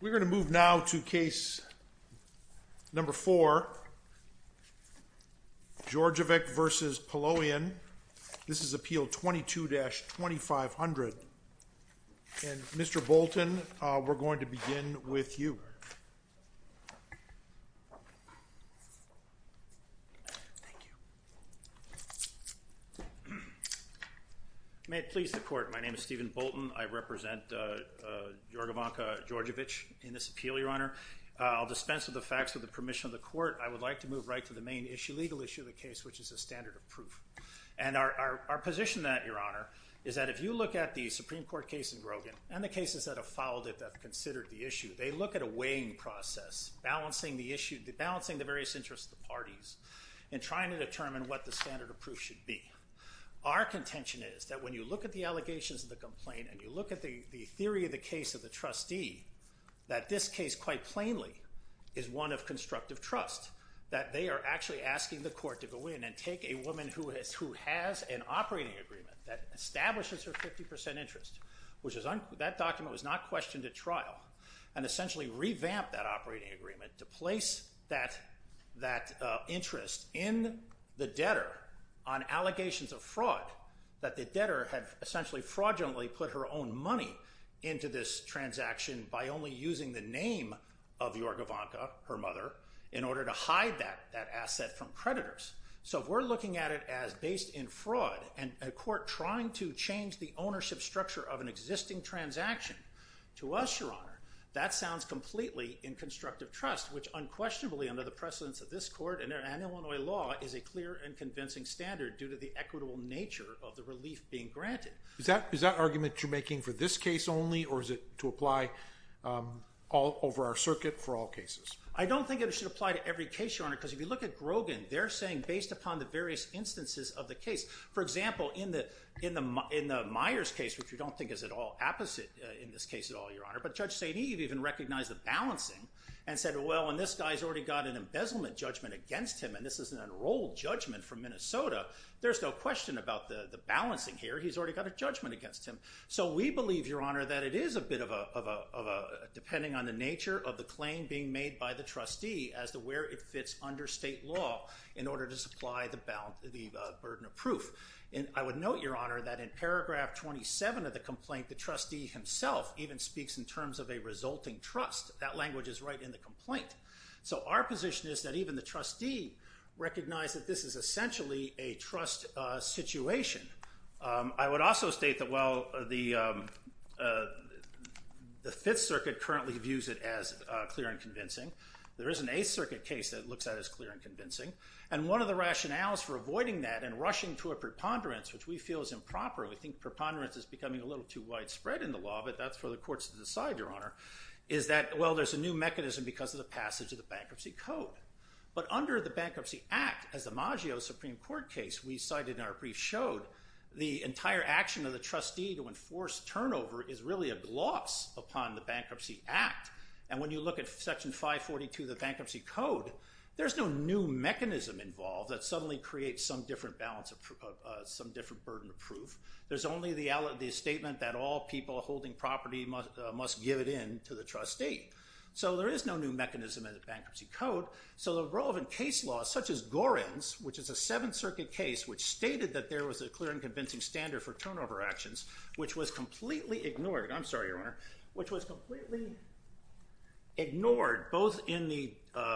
We're going to move now to case number four, Dordevic v. Paloian. This is appeal 22-2500. And Mr. Bolton, we're going to begin with you. Stephen Bolton May it please the Court, my name is Stephen Bolton. I represent Jorgovanka Dordevic in this appeal, Your Honor. I'll dispense with the facts with the permission of the Court. I would like to move right to the main legal issue of the case, which is the standard of proof. And our position on that, Your Honor, is that if you look at the Supreme Court case in Grogan and the cases that have followed it that have considered the issue, they look at a weighing process, balancing the various interests of the parties in trying to determine what the standard of proof should be. Our contention is that when you look at the allegations of the complaint and you look at the theory of the case of the trustee, that this case quite plainly is one of constructive trust, that they are actually asking the Court to go in and take a woman who has an operating agreement that establishes her 50% interest, which that document was not questioned at trial, and essentially revamp that operating agreement to place that interest in the debtor on allegations of fraud, that the debtor had essentially fraudulently put her own money into this transaction by only using the name of Jorgovanka, her mother, in order to hide that asset from creditors. So if we're looking at it as based in fraud and a court trying to change the ownership structure of an existing transaction, to us, Your Honor, that sounds completely in constructive trust, which unquestionably under the precedence of this Court and Illinois law is a clear and convincing standard due to the equitable nature of the relief being granted. Is that argument you're making for this case only or is it to apply all over our circuit for all cases? I don't think it should apply to every case, Your Honor, because if you look at Grogan, they're saying based upon the various instances of the case. For example, in the Myers case, which we don't think is at all opposite in this case at all, Your Honor, but Judge St. Eve even recognized the balancing and said, well, and this guy's already got an embezzlement judgment against him, and this is an unrolled judgment from Minnesota, there's no question about the balancing here, he's already got a judgment against him. So we believe, Your Honor, that it is a bit of a, depending on the nature of the claim being made by the trustee as to where it fits under state law in order to supply the burden of proof. And I would note, Your Honor, that in paragraph 27 of the complaint, the trustee himself even speaks in terms of a resulting trust. That language is right in the complaint. So our position is that even the trustee recognized that this is essentially a trust situation. I would also state that, well, the Fifth Circuit currently views it as clear and convincing. There is an Eighth Circuit case that looks at it as clear and convincing. And one of the rationales for avoiding that and rushing to a preponderance, which we feel is improper, we think preponderance is becoming a little too widespread in the law, but that's for the courts to decide, Your Honor, is that, well, there's a new mechanism because of the passage of the Bankruptcy Code. But under the Bankruptcy Act, as the Maggio Supreme Court case we cited in our brief showed, the entire action of the trustee to enforce turnover is really a gloss upon the Bankruptcy Act. And when you look at Section 542 of the Bankruptcy Code, there's no new mechanism involved that suddenly creates some different balance, some different burden of proof. There's only the statement that all people holding property must give it in to the trustee. So there is no new mechanism in the Bankruptcy Code. So the relevant case law, such as Gorin's, which is a Seventh Circuit case, which stated that there was a clear and convincing standard for turnover actions, which was completely ignored. I'm sorry, Your Honor. Which was completely ignored both in the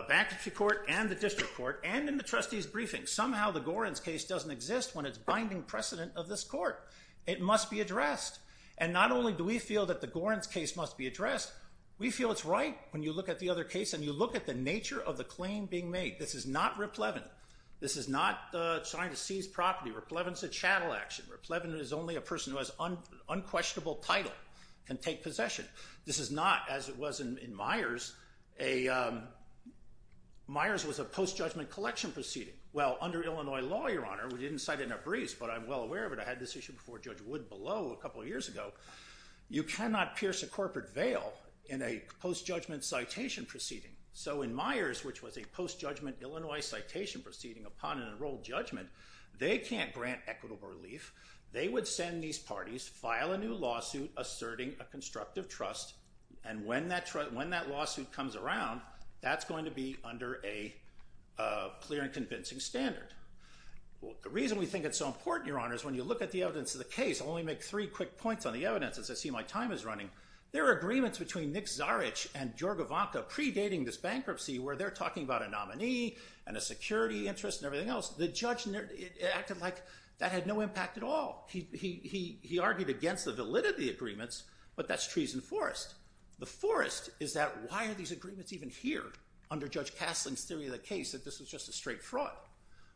Bankruptcy Court and the District Court and in the trustee's briefing. Somehow the Gorin's case doesn't exist when it's binding precedent of this court. It must be addressed. And not only do we feel that the Gorin's case must be addressed, we feel it's right when you look at the other case and you look at the nature of the claim being made. This is not replevin. This is not trying to seize property. Replevin's a chattel action. Replevin is only a person who has unquestionable title can take possession. This is not, as it was in Myers, a, Myers was a post-judgment collection proceeding. Well, under Illinois law, Your Honor, we didn't cite it in our briefs, but I'm well aware of it. I had this issue before Judge Wood below a couple of years ago. You cannot pierce a corporate veil in a post-judgment citation proceeding. So in Myers, which was a post-judgment Illinois citation proceeding upon an enrolled judgment, they can't grant equitable relief. They would send these parties, file a new lawsuit asserting a constructive trust, and when that lawsuit comes around, that's going to be under a clear and convincing standard. The reason we think it's so important, Your Honor, is when you look at the evidence of the case, I'll only make three quick points on the evidence as I see my time is running. There are agreements between Nick Zarech and George Ivanka predating this bankruptcy where they're talking about a nominee and a security interest and everything else. The judge acted like that had no impact at all. He argued against the validity agreements, but that's trees and forest. The forest is that why are these agreements even here under Judge Castling's theory of the case that this was just a straight fraud.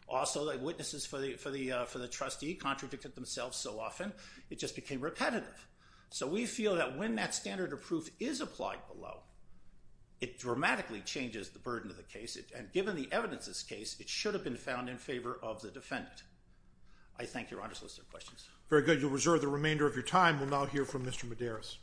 Also, witnesses for the trustee contradicted themselves so often it just became repetitive. So we feel that when that standard of proof is applied below, it dramatically changes the burden of the case, and given the evidence of this case, it should have been found in favor of the defendant. I thank Your Honor's list of questions. Very good. You'll reserve the remainder of your time. We'll now hear from Mr. Medeiros.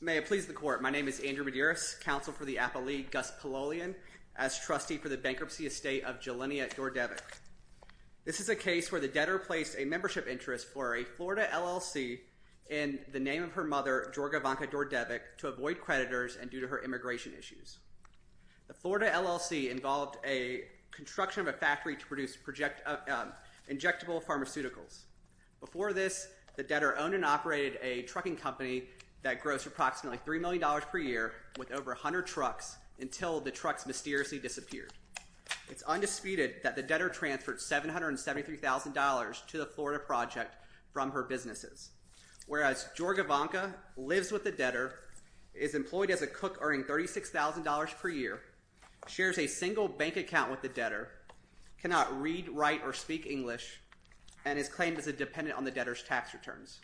May it please the court, my name is Andrew Medeiros, counsel for the Appellee Gus Pololian as trustee for the bankruptcy estate of Jelenia Dordevic. This is a case where the debtor placed a membership interest for a Florida LLC in the name of her mother, George Ivanka Dordevic, to avoid creditors and due to her immigration issues. The Florida LLC involved a construction of a factory to produce injectable pharmaceuticals. Before this, the debtor owned and operated a trucking company that grossed approximately $3 million per year with over 100 trucks until the trucks mysteriously disappeared. It's undisputed that the debtor transferred $773,000 to the Florida project from her businesses. Whereas George Ivanka lives with the debtor, is employed as a cook earning $36,000 per year, shares a single bank account with the debtor, cannot read, write, or speak English, and is claimed as a dependent on the debtor's tax returns.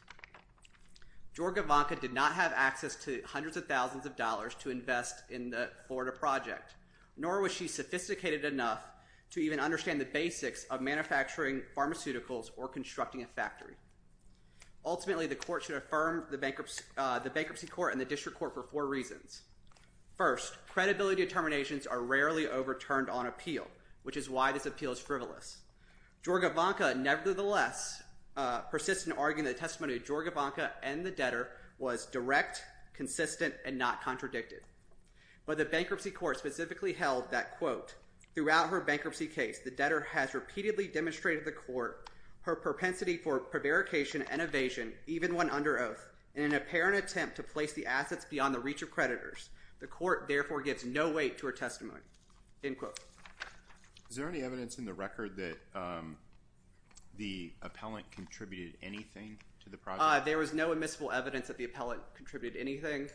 George Ivanka did not have access to hundreds of thousands of dollars to invest in the Florida project, nor was she sophisticated enough to even understand the basics of manufacturing pharmaceuticals or constructing a factory. Ultimately, the court should affirm the bankruptcy court and the district court for four reasons. First, credibility determinations are rarely overturned on appeal, which is why this appeal is frivolous. George Ivanka, nevertheless, persists in arguing the testimony of George Ivanka and the debtor was direct, consistent, and not contradicted. But the bankruptcy court specifically held that, quote, throughout her bankruptcy case, the debtor has repeatedly demonstrated to the court her propensity for prevarication and evasion, even when under oath, in an apparent attempt to place the assets beyond the reach of creditors. The court, therefore, gives no weight to her testimony, end quote. Is there any evidence in the record that the appellant contributed anything to the project? There was no admissible evidence that the appellant contributed anything.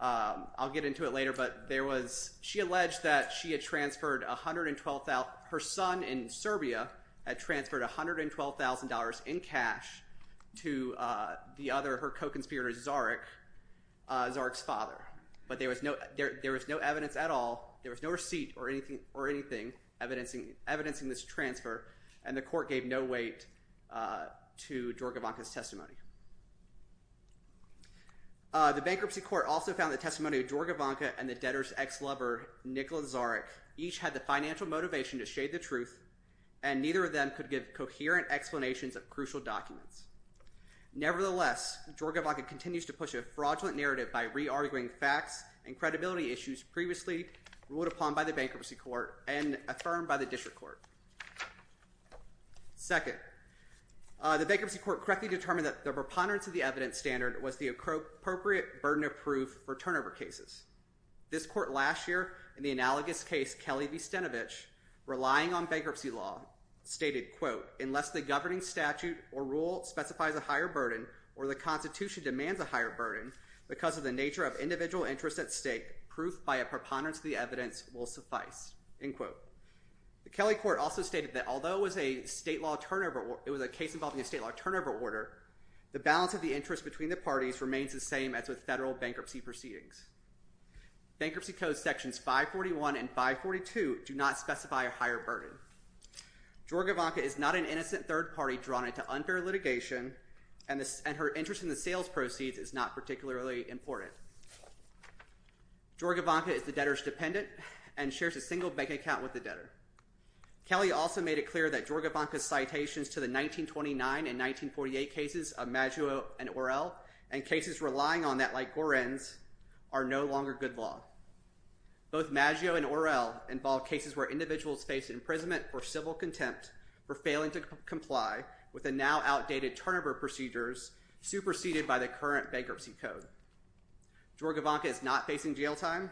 I'll get into it later, but there was—she alleged that she had transferred $112,000— her son in Serbia had transferred $112,000 in cash to the other—her co-conspirator, Zarek, Zarek's father. But there was no evidence at all. There was no receipt or anything evidencing this transfer, and the court gave no weight to George Ivanka's testimony. The bankruptcy court also found the testimony of George Ivanka and the debtor's ex-lover, Nikola Zarek, each had the financial motivation to shade the truth, and neither of them could give coherent explanations of crucial documents. Nevertheless, George Ivanka continues to push a fraudulent narrative by re-arguing facts and credibility issues previously ruled upon by the bankruptcy court and affirmed by the district court. Second, the bankruptcy court correctly determined that the preponderance of the evidence standard was the appropriate burden of proof for turnover cases. This court last year, in the analogous case Kelly v. Stenevich, relying on bankruptcy law, stated, quote, unless the governing statute or rule specifies a higher burden or the Constitution demands a higher burden because of the nature of individual interest at stake, proof by a preponderance of the evidence will suffice, end quote. The Kelly court also stated that although it was a case involving a state law turnover order, the balance of the interest between the parties remains the same as with federal bankruptcy proceedings. Bankruptcy codes sections 541 and 542 do not specify a higher burden. George Ivanka is not an innocent third party drawn into unfair litigation, and her interest in the sales proceeds is not particularly important. George Ivanka is the debtor's dependent and shares a single bank account with the debtor. Kelly also made it clear that George Ivanka's citations to the 1929 and 1948 cases of Maggio and Orell and cases relying on that like Gorin's are no longer good law. Both Maggio and Orell involve cases where individuals face imprisonment for civil contempt for failing to comply with the now outdated turnover procedures superseded by the current bankruptcy code. George Ivanka is not facing jail time.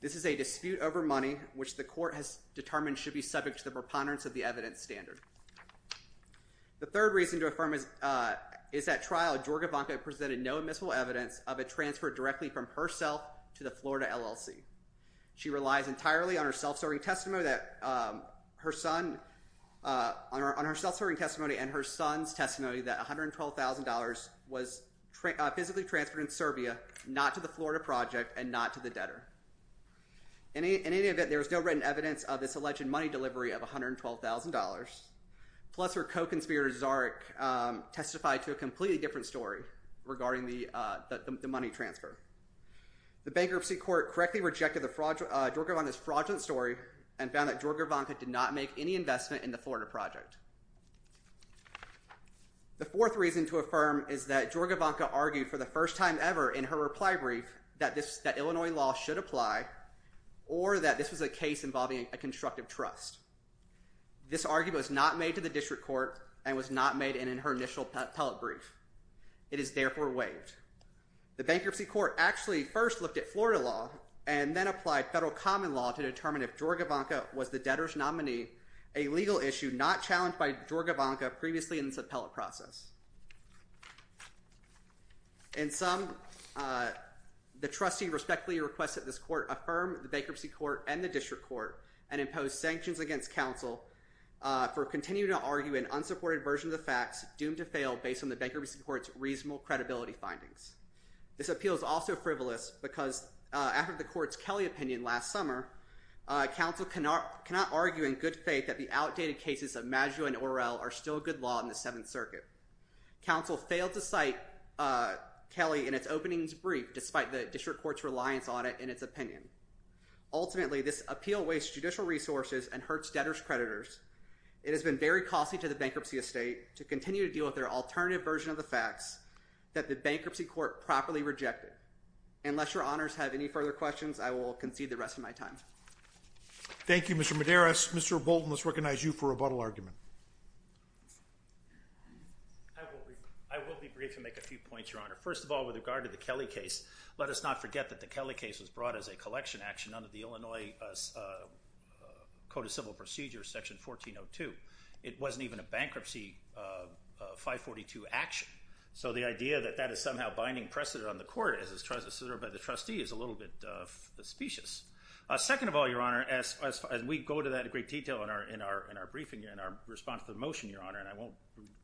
This is a dispute over money which the court has determined should be subject to the preponderance of the evidence standard. The third reason to affirm is that trial George Ivanka presented no admissible evidence of a transfer directly from herself to the Florida LLC. She relies entirely on her self-serving testimony and her son's testimony that $112,000 was physically transferred in Serbia not to the Florida project and not to the debtor. In any event, there is no written evidence of this alleged money delivery of $112,000, plus her co-conspirator Czaric testified to a completely different story regarding the money transfer. The bankruptcy court correctly rejected George Ivanka's fraudulent story and found that George Ivanka did not make any investment in the Florida project. The fourth reason to affirm is that George Ivanka argued for the first time ever in her reply brief that Illinois law should apply or that this was a case involving a constructive trust. This argument was not made to the district court and was not made in her initial appellate brief. It is therefore waived. The bankruptcy court actually first looked at Florida law and then applied federal common law to determine if George Ivanka was the debtor's nominee, a legal issue not challenged by George Ivanka previously in this appellate process. In sum, the trustee respectfully requests that this court affirm the bankruptcy court and the district court and impose sanctions against counsel for continuing to argue an unsupported version of the facts doomed to fail based on the bankruptcy court's reasonable credibility findings. This appeal is also frivolous because after the court's Kelly opinion last summer, counsel cannot argue in good faith that the outdated cases of Maggio and Orell are still good law in the Seventh Circuit. Counsel failed to cite Kelly in its openings brief despite the district court's reliance on it in its opinion. Ultimately, this appeal wastes judicial resources and hurts debtors' creditors. It has been very costly to the bankruptcy estate to continue to deal with their alternative version of the facts that the bankruptcy court properly rejected. Unless your honors have any further questions, I will concede the rest of my time. Thank you, Mr. Medeiros. Mr. Bolton, let's recognize you for rebuttal argument. I will be brief and make a few points, Your Honor. First of all, with regard to the Kelly case, let us not forget that the Kelly case was brought as a collection action under the Illinois Code of Civil Procedures, Section 1402. It wasn't even a bankruptcy 542 action. So the idea that that is somehow binding precedent on the court as it's tried to assert by the trustee is a little bit suspicious. Second of all, Your Honor, as we go to that in great detail in our briefing and our response to the motion, Your Honor, and I won't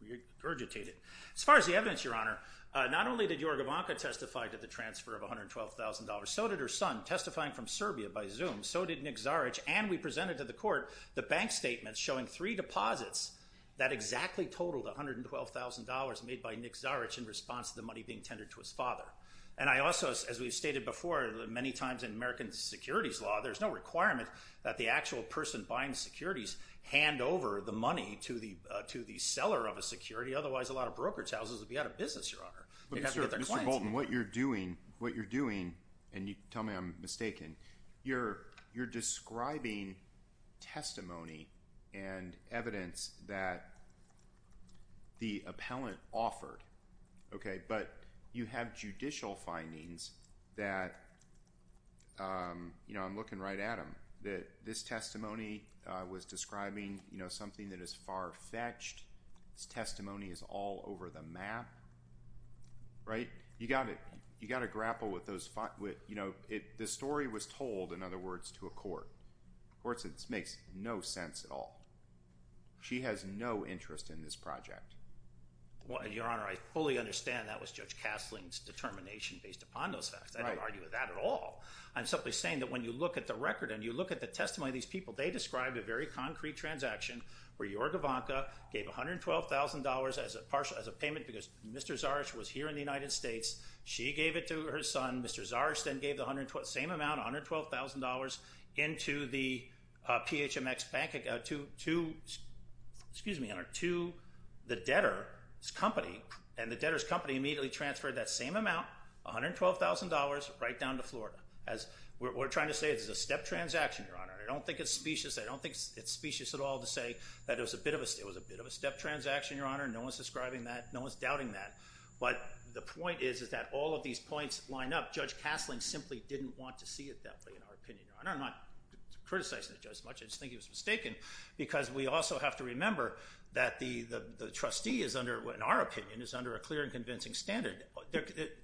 regurgitate it, as far as the evidence, Your Honor, not only did Jorge Banca testify to the transfer of $112,000, so did her son testifying from Serbia by Zoom, so did Nick Zaric, and we presented to the court the bank statements showing three deposits that exactly totaled $112,000 made by Nick Zaric in response to the money being tendered to his father. And I also, as we've stated before many times in American securities law, there's no requirement that the actual person buying securities hand over the money to the seller of a security, otherwise a lot of brokerage houses would be out of business, Your Honor. Mr. Bolton, what you're doing, and tell me I'm mistaken, you're describing testimony and evidence that the appellant offered, okay, but you have judicial findings that, you know, I'm looking right at them, that this testimony was describing, you know, something that is far-fetched. This testimony is all over the map, right? You've got to grapple with those, you know, the story was told, in other words, to a court. Of course, this makes no sense at all. She has no interest in this project. Well, Your Honor, I fully understand that was Judge Castling's determination based upon those facts. I don't argue with that at all. I'm simply saying that when you look at the record and you look at the testimony of these people, they described a very concrete transaction where Jorge Ivanka gave $112,000 as a payment because Mr. Zarisch was here in the United States. She gave it to her son. Mr. Zarisch then gave the same amount, $112,000, into the PHMX Bank to the debtor's company, and the debtor's company immediately transferred that same amount, $112,000, right down to Florida. We're trying to say this is a step transaction, Your Honor. I don't think it's specious. I don't think it's specious at all to say that it was a bit of a step transaction, Your Honor. No one's describing that. No one's doubting that. But the point is that all of these points line up. Judge Castling simply didn't want to see it that way, in our opinion, Your Honor. I'm not criticizing the judge much. I just think he was mistaken because we also have to remember that the trustee is under, in our opinion, is under a clear and convincing standard.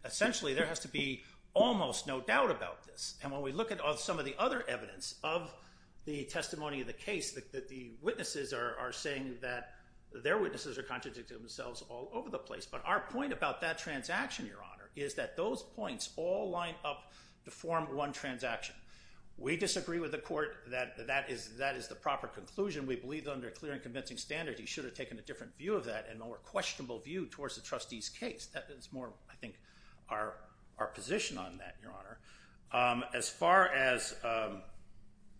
Essentially, there has to be almost no doubt about this. And when we look at some of the other evidence of the testimony of the case, the witnesses are saying that their witnesses are contradicting themselves all over the place. But our point about that transaction, Your Honor, is that those points all line up to form one transaction. We disagree with the court that that is the proper conclusion. We believe that under a clear and convincing standard, he should have taken a different view of that, a more questionable view towards the trustee's case. As far as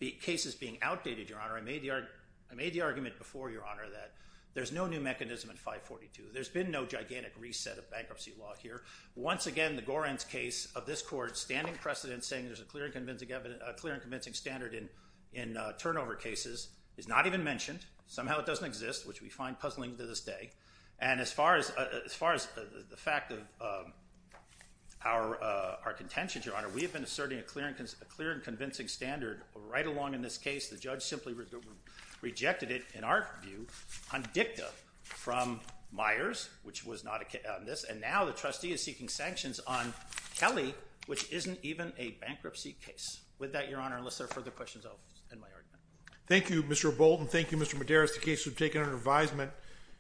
the cases being outdated, Your Honor, I made the argument before, Your Honor, that there's no new mechanism in 542. There's been no gigantic reset of bankruptcy law here. Once again, the Gorin's case of this court standing precedent saying there's a clear and convincing standard in turnover cases is not even mentioned. Somehow it doesn't exist, which we find puzzling to this day. And as far as the fact of our contentions, Your Honor, we have been asserting a clear and convincing standard right along in this case. The judge simply rejected it, in our view, on dicta from Myers, which was not on this. And now the trustee is seeking sanctions on Kelly, which isn't even a bankruptcy case. With that, Your Honor, unless there are further questions, I'll end my argument. Thank you, Mr. Bolton. Thank you, Mr. Medeiros. The case has been taken under advisement.